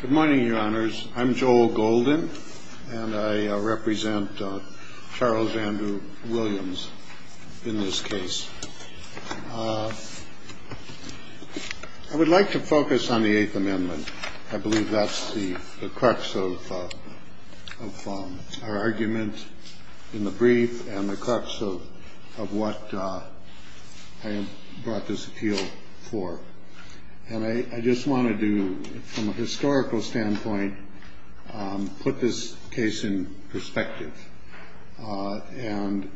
Good morning, Your Honors. I'm Joel Golden, and I represent Charles Andrew Williams in this case. I would like to focus on the Eighth Amendment. I believe that's the crux of our argument in the brief and the crux of what I brought this appeal for. And I just want to do, from a historical standpoint, put this case in perspective. And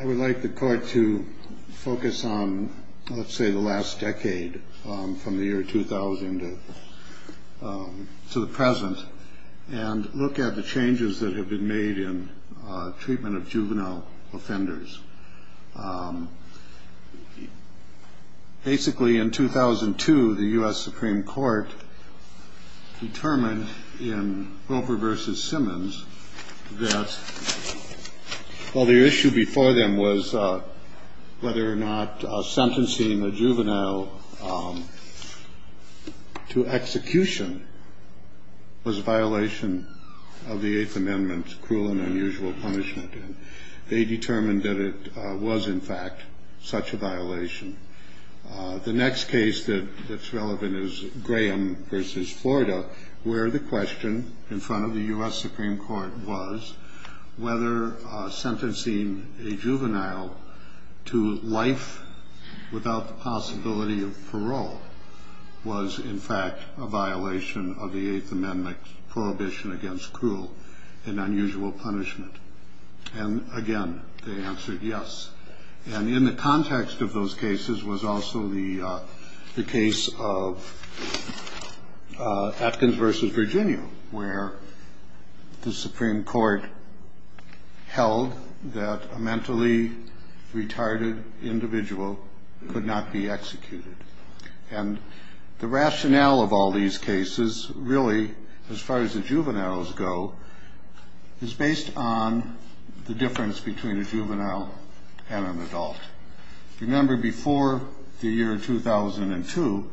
I would like the court to focus on, let's say, the last decade from the year 2000 to the present and look at the changes that have been made in treatment of juvenile offenders. Basically, in 2002, the U.S. Supreme Court determined in Wilber v. Simmons that, well, the issue before them was whether or not sentencing a juvenile to execution was a violation of the Eighth Amendment's cruel and unusual punishment. They determined that it was, in fact, such a violation. The next case that's relevant is Graham v. Florida, where the question in front of the U.S. Supreme Court was whether sentencing a juvenile to life without the possibility of parole was, in fact, a violation of the Eighth Amendment's prohibition against cruel and unusual punishment. And, again, they answered yes. And in the context of those cases was also the case of Atkins v. Virginia, where the Supreme Court held that a mentally retarded individual could not be executed. And the rationale of all these cases, really, as far as the juveniles go, is based on the difference between a juvenile and an adult. Remember, before the year 2002,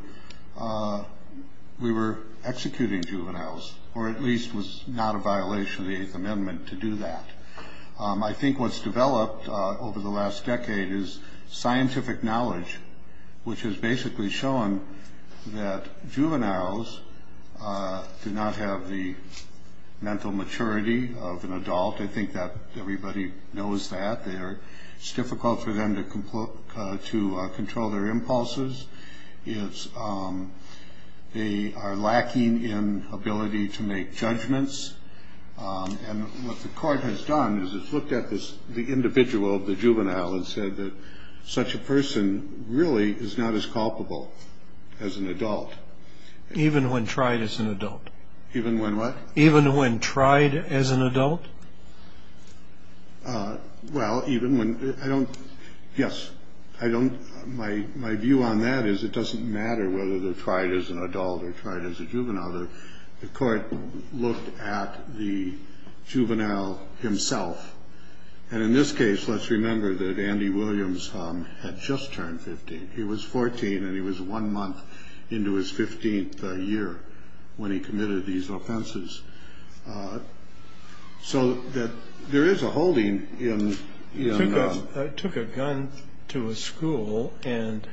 we were executing juveniles, or at least was not a violation of the Eighth Amendment to do that. I think what's developed over the last decade is scientific knowledge, which has basically shown that juveniles do not have the mental maturity of an adult. I think that everybody knows that. It's difficult for them to control their impulses. They are lacking in ability to make judgments. And what the court has done is it's looked at the individual, the juvenile, and said that such a person really is not as culpable as an adult. Even when tried as an adult? Even when what? Even when tried as an adult? Well, even when, I don't, yes, I don't, my view on that is it doesn't matter whether they're tried as an adult or tried as a juvenile. The court looked at the juvenile himself. And in this case, let's remember that Andy Williams had just turned 15. He was 14 and he was one month into his 15th year when he committed these offenses. So there is a holding in... He took a gun to a school and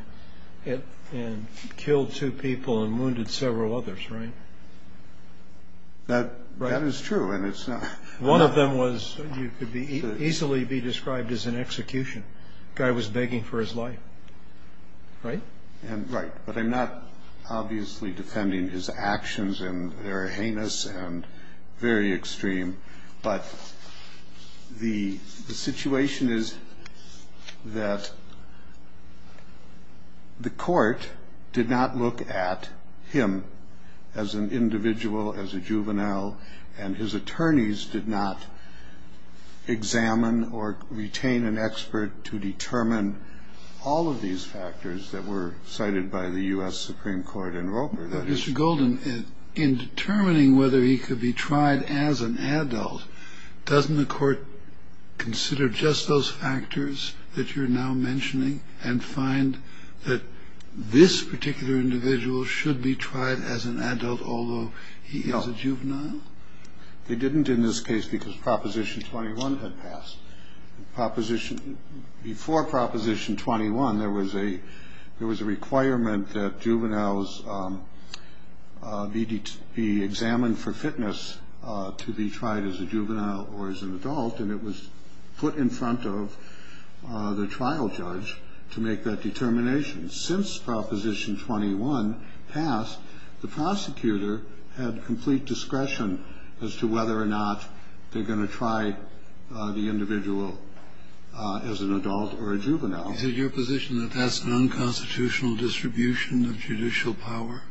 killed two people and wounded several others, right? That is true. One of them could easily be described as an execution. The guy was begging for his life, right? Right, but I'm not obviously defending his actions and they're heinous and very extreme. But the situation is that the court did not look at him as an individual, as a juvenile, and his attorneys did not examine or retain an expert to determine all of these factors that were cited by the U.S. Supreme Court in Roper. Mr. Golden, in determining whether he could be tried as an adult, doesn't the court consider just those factors that you're now mentioning and find that this particular individual should be tried as an adult, although he is a juvenile? They didn't in this case because Proposition 21 had passed. Before Proposition 21, there was a requirement that juveniles be examined for fitness to be tried as a juvenile or as an adult, and it was put in front of the trial judge to make that determination. Since Proposition 21 passed, the prosecutor had complete discretion as to whether or not they're going to try the individual as an adult or a juvenile. Is it your position that that's an unconstitutional distribution of judicial power?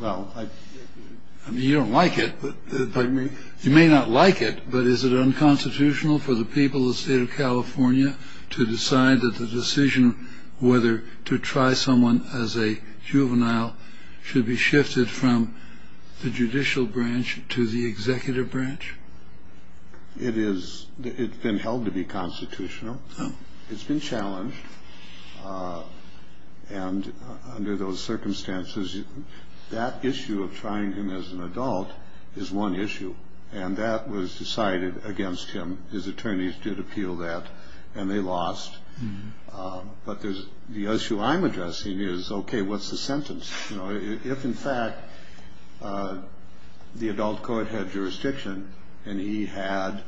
Well, I mean, you don't like it, but you may not like it, but is it unconstitutional for the people of the state of California to decide that the decision whether to try someone as a juvenile should be shifted from the judicial branch to the executive branch? It's been held to be constitutional. It's been challenged. And under those circumstances, that issue of trying him as an adult is one issue, and that was decided against him. His attorneys did appeal that, and they lost. But the issue I'm addressing is, okay, what's the sentence? If, in fact, the adult court had jurisdiction and he had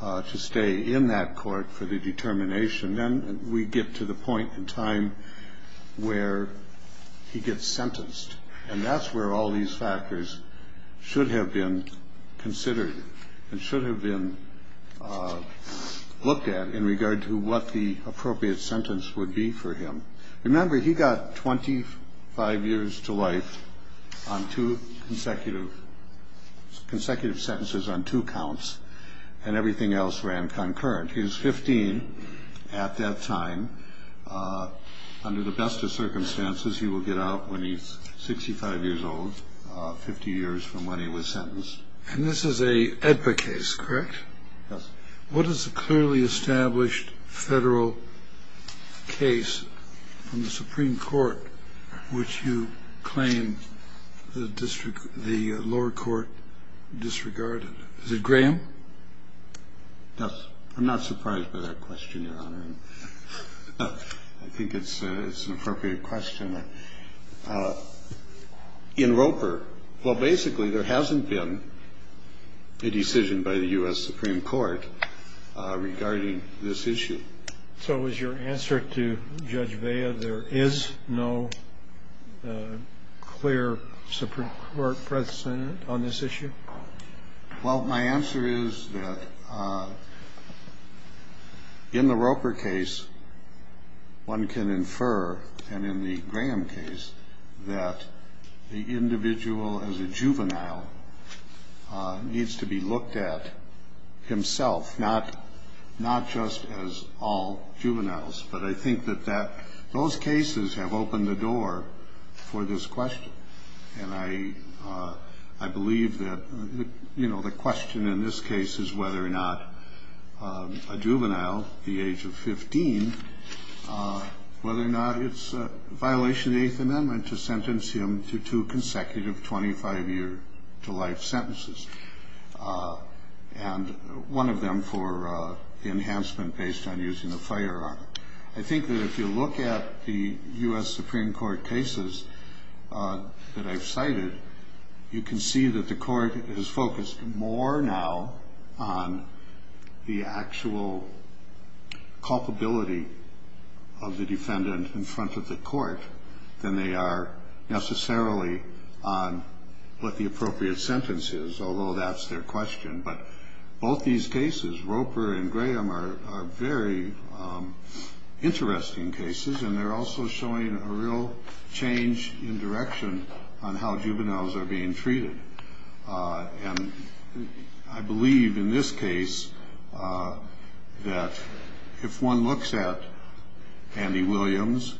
to stay in that court for the determination, then we get to the point in time where he gets sentenced. And that's where all these factors should have been considered and should have been looked at in regard to what the appropriate sentence would be for him. Remember, he got 25 years to life on two consecutive sentences on two counts, and everything else ran concurrent. He was 15 at that time. Under the best of circumstances, he will get out when he's 65 years old, 50 years from when he was sentenced. And this is a AEDPA case, correct? Yes. What is the clearly established federal case from the Supreme Court which you claim the lower court disregarded? Is it Graham? I'm not surprised by that question, Your Honor. I think it's an appropriate question. In Roper, well, basically, there hasn't been a decision by the U.S. Supreme Court regarding this issue. So is your answer to Judge Vea, there is no clear Supreme Court precedent on this issue? Well, my answer is that in the Roper case, one can infer, and in the Graham case, that the individual as a juvenile needs to be looked at himself, not just as all juveniles. But I think that those cases have opened the door for this question. And I believe that the question in this case is whether or not a juvenile, the age of 15, whether or not it's a violation of the Eighth Amendment to sentence him to two consecutive 25-year-to-life sentences, and one of them for enhancement based on using a firearm. I think that if you look at the U.S. Supreme Court cases that I've cited, you can see that the court is focused more now on the actual culpability of the defendant in front of the court than they are necessarily on what the appropriate sentence is, although that's their question. But both these cases, Roper and Graham, are very interesting cases, and they're also showing a real change in direction on how juveniles are being treated. And I believe in this case that if one looks at Andy Williams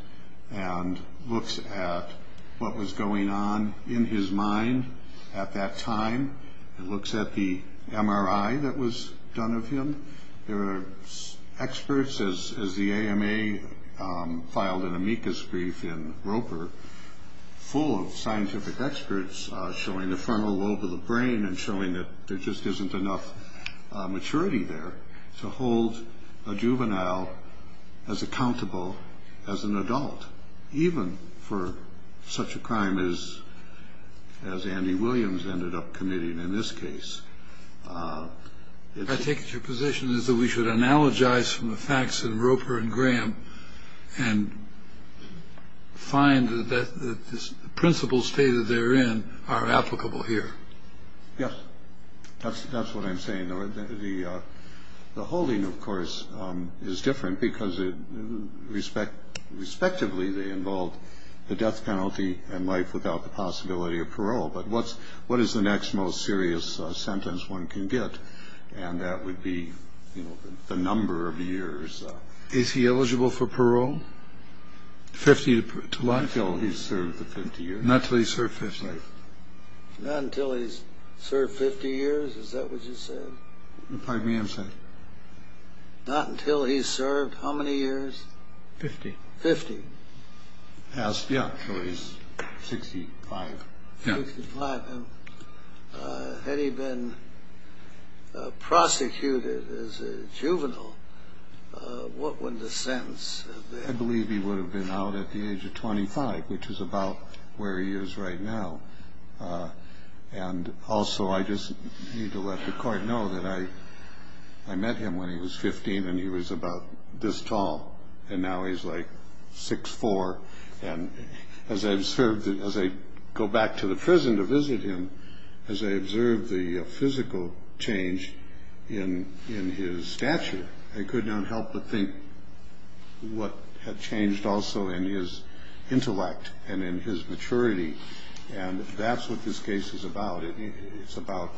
and looks at what was going on in his mind at that time, and looks at the MRI that was done of him, there are experts, as the AMA filed an amicus brief in Roper, full of scientific experts showing the frontal lobe of the brain and showing that there just isn't enough maturity there to hold a juvenile as accountable as an adult, even for such a crime as Andy Williams ended up committing in this case. I take it your position is that we should analogize from the facts in Roper and Graham and find that the principles stated therein are applicable here. Yes, that's what I'm saying. The holding, of course, is different because respectively they involve the death penalty and life without the possibility of parole. But what is the next most serious sentence one can get? And that would be the number of years. Is he eligible for parole? Not until he's served the 50 years. Not until he's served 50. Not until he's served 50 years, is that what you said? Pardon me, I'm sorry. Not until he's served how many years? 50. 50. Yeah, so he's 65. 65. Had he been prosecuted as a juvenile, what would the sentence have been? I believe he would have been out at the age of 25, which is about where he is right now. And also I just need to let the court know that I met him when he was 15 and he was about this tall, and now he's like 6'4". And as I go back to the prison to visit him, as I observe the physical change in his stature, I could not help but think what had changed also in his intellect and in his maturity. And that's what this case is about. It's about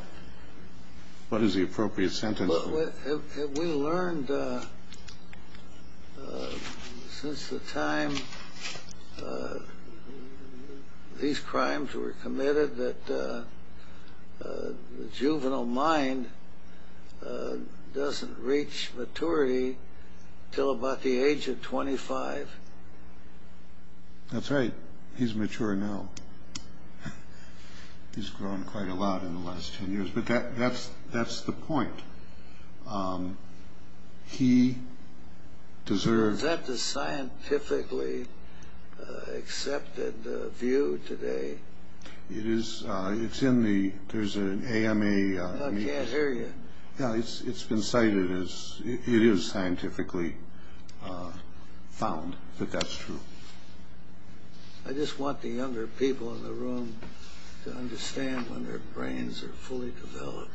what is the appropriate sentence. Well, have we learned since the time these crimes were committed that the juvenile mind doesn't reach maturity until about the age of 25? That's right. He's mature now. He's grown quite a lot in the last 10 years. But that's the point. He deserves. Is that the scientifically accepted view today? It is. It's in the, there's an AMA. I can't hear you. It's been cited as, it is scientifically found that that's true. I just want the younger people in the room to understand when their brains are fully developed.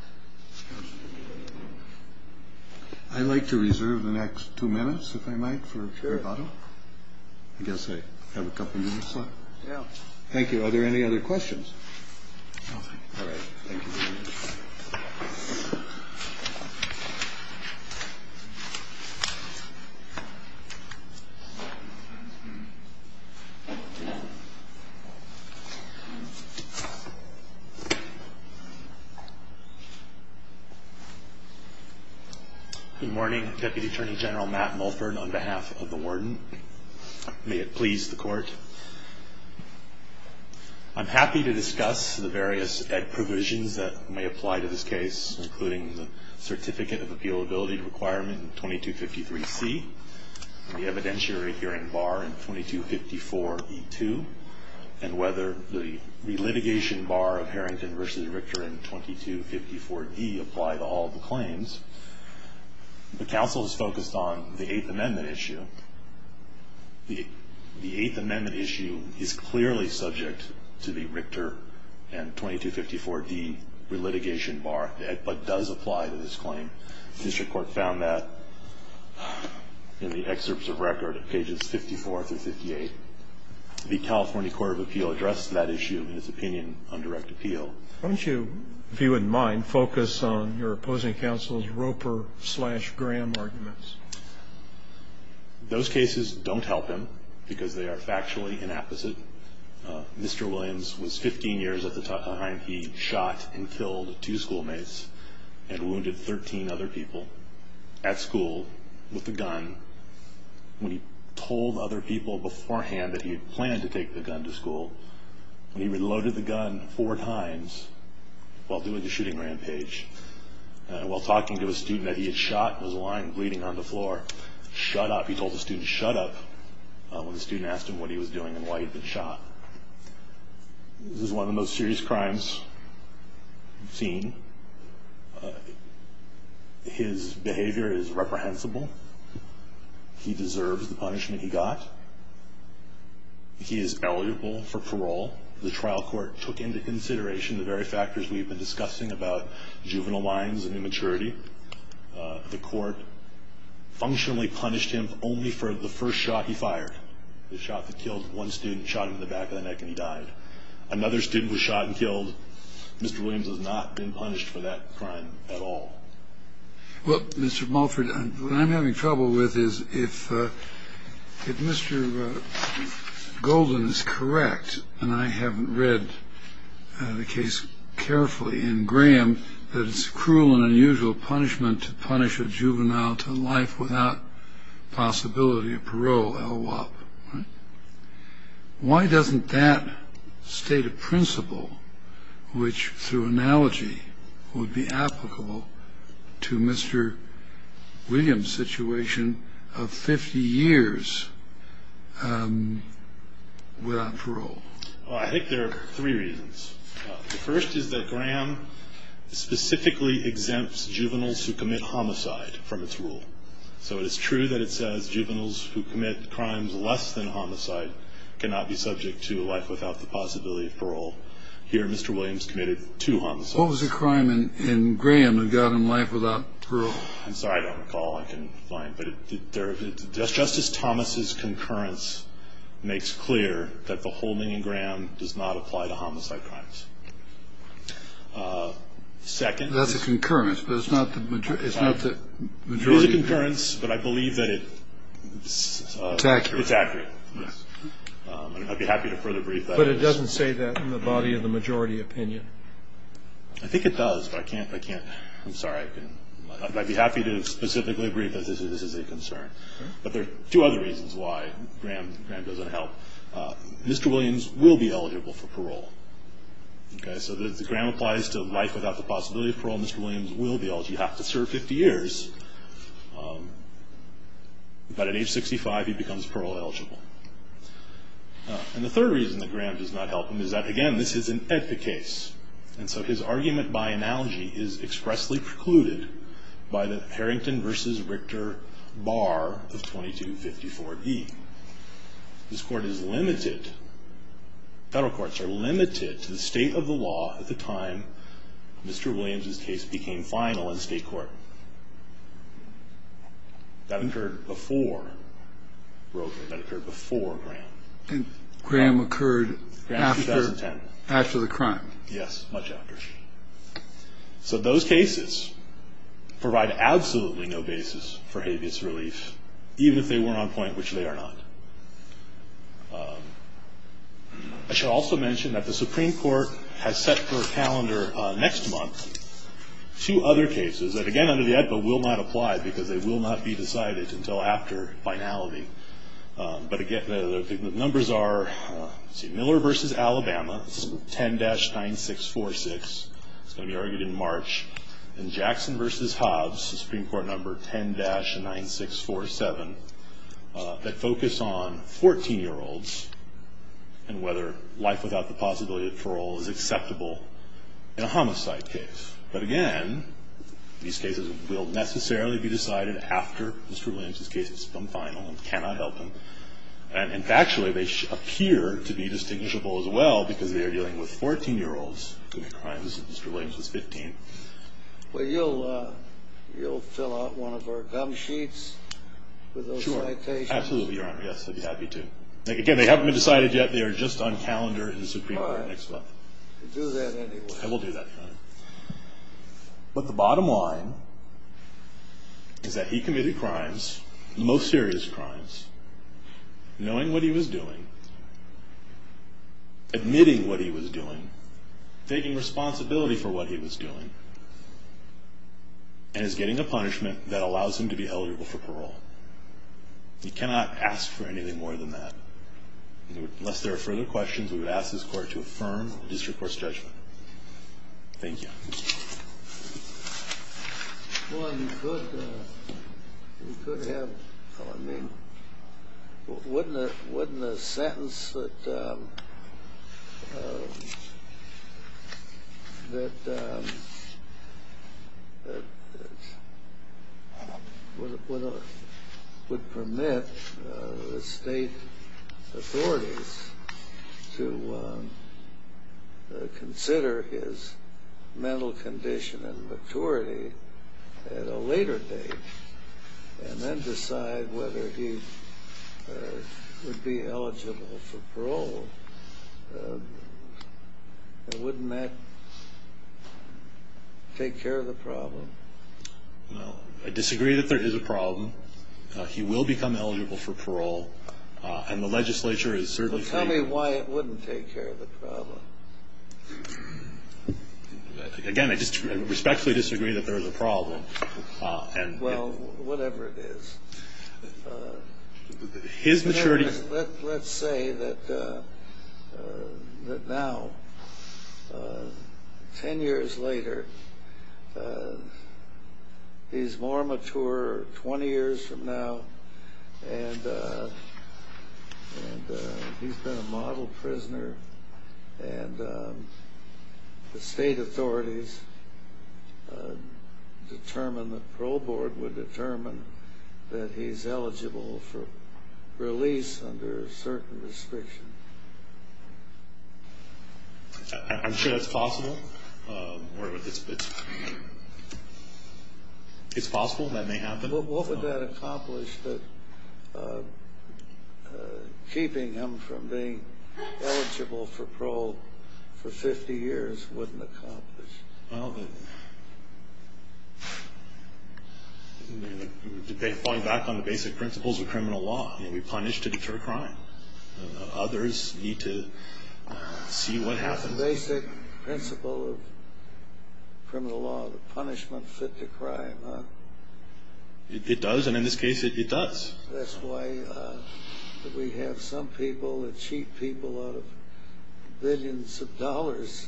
I'd like to reserve the next two minutes, if I might, for a short autumn. I guess I have a couple minutes left. Thank you. Are there any other questions? All right. Thank you very much. Good morning. Deputy Attorney General Matt Mulford, on behalf of the warden. May it please the court. I'm happy to discuss the various Ed provisions that may apply to this case, including the certificate of appealability requirement in 2253C, the evidentiary hearing bar in 2254E2, and whether the relitigation bar of Harrington v. Richter in 2254D apply to all the claims. The counsel is focused on the Eighth Amendment issue. The Eighth Amendment issue is clearly subject to the Richter and 2254D relitigation bar, but does apply to this claim. The district court found that in the excerpts of record at pages 54 through 58. The California Court of Appeal addressed that issue in its opinion on direct appeal. Why don't you, if you wouldn't mind, focus on your opposing counsel's Roper-slash-Graham arguments. Those cases don't help him because they are factually inapposite. Mr. Williams was 15 years at the time he shot and killed two schoolmates and wounded 13 other people at school with a gun. When he told other people beforehand that he had planned to take the gun to school, when he reloaded the gun four times while doing the shooting rampage, while talking to a student that he had shot and was lying bleeding on the floor, shut up, he told the student shut up when the student asked him what he was doing and why he'd been shot. This is one of the most serious crimes seen. His behavior is reprehensible. He deserves the punishment he got. He is eligible for parole. The trial court took into consideration the very factors we've been discussing about juvenile lines and immaturity. The court functionally punished him only for the first shot he fired, the shot that killed one student, shot him in the back of the neck, and he died. Another student was shot and killed. Mr. Williams has not been punished for that crime at all. Well, Mr. Mulford, what I'm having trouble with is if Mr. Golden is correct, and I haven't read the case carefully in Graham, that it's a cruel and unusual punishment to punish a juvenile to life without possibility of parole, LWOP. Why doesn't that state a principle which, through analogy, would be applicable to Mr. Williams' situation of 50 years without parole? I think there are three reasons. The first is that Graham specifically exempts juveniles who commit homicide from its rule. So it is true that it says juveniles who commit crimes less than homicide cannot be subject to life without the possibility of parole. Here, Mr. Williams committed two homicides. What was the crime in Graham that got him life without parole? I'm sorry, I don't recall. I can't find. But Justice Thomas' concurrence makes clear that the holding in Graham does not apply to homicide crimes. That's a concurrence, but it's not the majority. It is a concurrence, but I believe that it's accurate. I'd be happy to further brief that. But it doesn't say that in the body of the majority opinion. I think it does, but I can't. I'm sorry. I'd be happy to specifically brief that this is a concern. But there are two other reasons why Graham doesn't help. Mr. Williams will be eligible for parole. So if Graham applies to life without the possibility of parole, Mr. Williams will be eligible. He'd have to serve 50 years. But at age 65, he becomes parole eligible. And the third reason that Graham does not help him is that, again, this is an ethic case. And so his argument by analogy is expressly precluded by the Harrington v. Richter bar of 2254E. This court is limited. Federal courts are limited to the state of the law at the time Mr. Williams' case became final in state court. That occurred before Brogan. That occurred before Graham. And Graham occurred after the crime. Yes, much after. So those cases provide absolutely no basis for habeas relief, even if they were on point, which they are not. I should also mention that the Supreme Court has set for a calendar next month two other cases that, again, under the AEDPA will not apply because they will not be decided until after finality. But, again, the numbers are Miller v. Alabama, 10-9646. It's going to be argued in March. And Jackson v. Hobbs, the Supreme Court number 10-9647, that focus on 14-year-olds and whether life without the possibility of parole is acceptable in a homicide case. But, again, these cases will necessarily be decided after Mr. Williams' case is final and cannot help him. And, factually, they appear to be distinguishable as well because they are dealing with 14-year-olds and the crimes of Mr. Williams' 15. Well, you'll fill out one of our gum sheets with those citations? Sure, absolutely, Your Honor. Yes, I'd be happy to. Again, they haven't been decided yet. They are just on calendar in the Supreme Court next month. All right. Do that anyway. I will do that, Your Honor. But the bottom line is that he committed crimes, the most serious crimes, knowing what he was doing, admitting what he was doing, taking responsibility for what he was doing, and is getting a punishment that allows him to be held liable for parole. We cannot ask for anything more than that. Unless there are further questions, we would ask this Court to affirm the district court's judgment. Thank you. Well, he could have, I mean, wouldn't a sentence that would permit the state authorities to consider his mental condition and maturity at a later date and then decide whether he would be eligible for parole? Wouldn't that take care of the problem? Well, I disagree that there is a problem. He will become eligible for parole, and the legislature is certainly... Tell me why it wouldn't take care of the problem. Again, I respectfully disagree that there is a problem. Well, whatever it is. His maturity... Let's say that now, 10 years later, he is more mature 20 years from now, and he's been a model prisoner, and the state authorities determine, the parole board would determine that he's eligible for release under certain restrictions. I'm sure that's possible. It's possible that may happen. What would that accomplish that keeping him from being eligible for parole for 50 years wouldn't accomplish? Well, falling back on the basic principles of criminal law. We punish to deter crime. Others need to see what happens. The basic principle of criminal law, the punishment fit to crime, huh? It does, and in this case, it does. That's why we have some people that cheat people out of billions of dollars,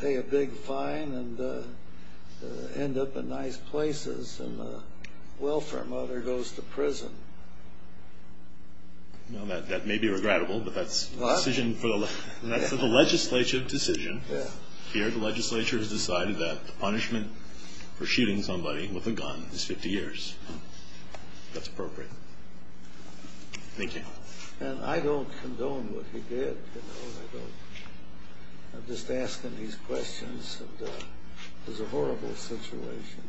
pay a big fine and end up in nice places, and the welfare mother goes to prison. Well, that may be regrettable, but that's a decision for the legislature. Here, the legislature has decided that the punishment for shooting somebody with a gun is 50 years. That's appropriate. Thank you. And I don't condone what he did. I'm just asking these questions, and it was a horrible situation.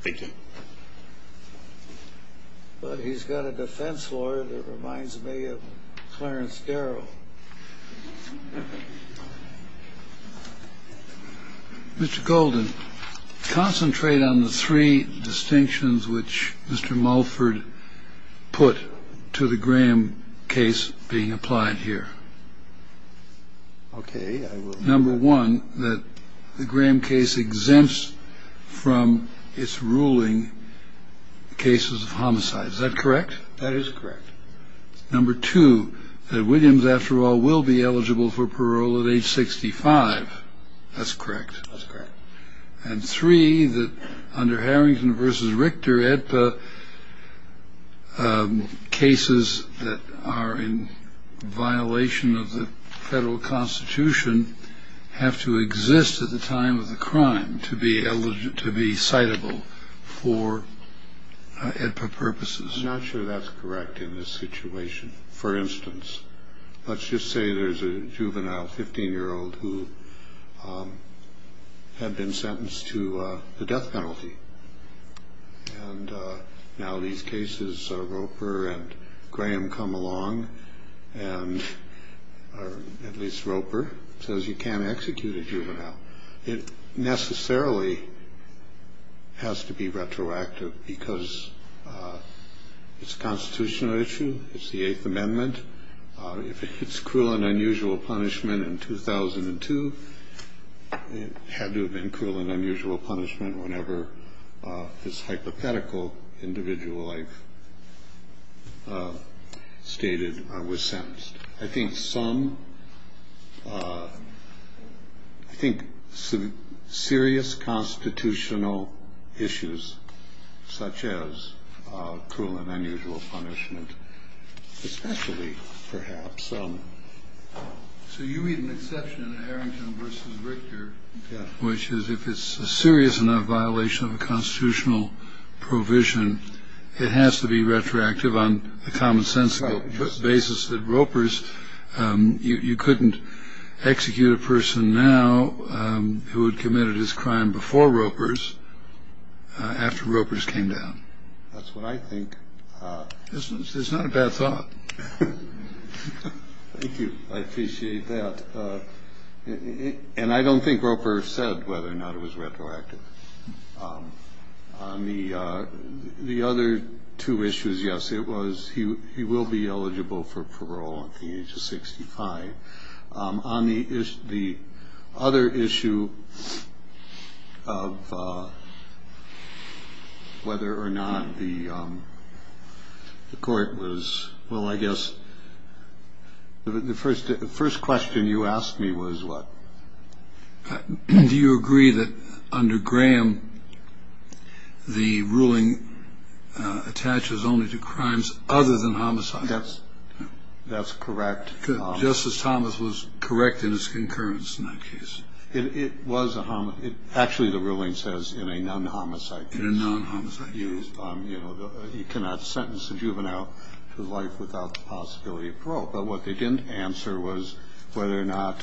Thank you. Well, he's got a defense lawyer that reminds me of Clarence Darrell. Mr. Golden, concentrate on the three distinctions which Mr. Mulford put to the Graham case being applied here. Okay, I will. Number one, that the Graham case exempts from its ruling cases of homicide. Is that correct? That is correct. Number two, that Williams, after all, will be eligible for parole at age 65. That's correct. That's correct. And three, that under Harrington versus Richter, EDPA cases that are in violation of the federal constitution have to exist at the time of the crime to be eligible, to be citable for EDPA purposes. I'm not sure that's correct in this situation. For instance, let's just say there's a juvenile, 15-year-old, who had been sentenced to the death penalty. And now these cases, Roper and Graham come along, or at least Roper, says you can't execute a juvenile. It necessarily has to be retroactive because it's a constitutional issue. It's the Eighth Amendment. If it's cruel and unusual punishment in 2002, it had to have been cruel and unusual punishment whenever this hypothetical individual I've stated was sentenced. I think some serious constitutional issues such as cruel and unusual punishment, especially perhaps. So you read an exception in Harrington versus Richter, which is if it's a serious enough violation of a constitutional provision, it has to be retroactive on a common sense basis that Roper's you couldn't execute a person now who had committed his crime before Roper's after Roper's came down. That's what I think. This is not a bad thought. Thank you. I appreciate that. And I don't think Roper said whether or not it was retroactive. I mean, the other two issues. Yes, it was. He will be eligible for parole at the age of 65. On the other issue of whether or not the court was. Well, I guess the first the first question you asked me was what. Do you agree that under Graham, the ruling attaches only to crimes other than homicide? That's that's correct. Justice Thomas was correct in his concurrence in that case. It was actually the ruling says in a non homicide, you know, you cannot sentence a juvenile to life without the possibility of parole. But what they didn't answer was whether or not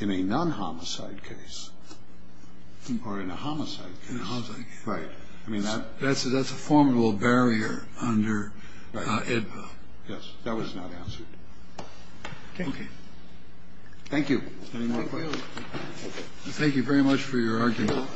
in a non homicide case or in a homicide. Right. I mean, that that's that's a formidable barrier under it. Yes, that was not answered. Thank you. Thank you very much for your argument.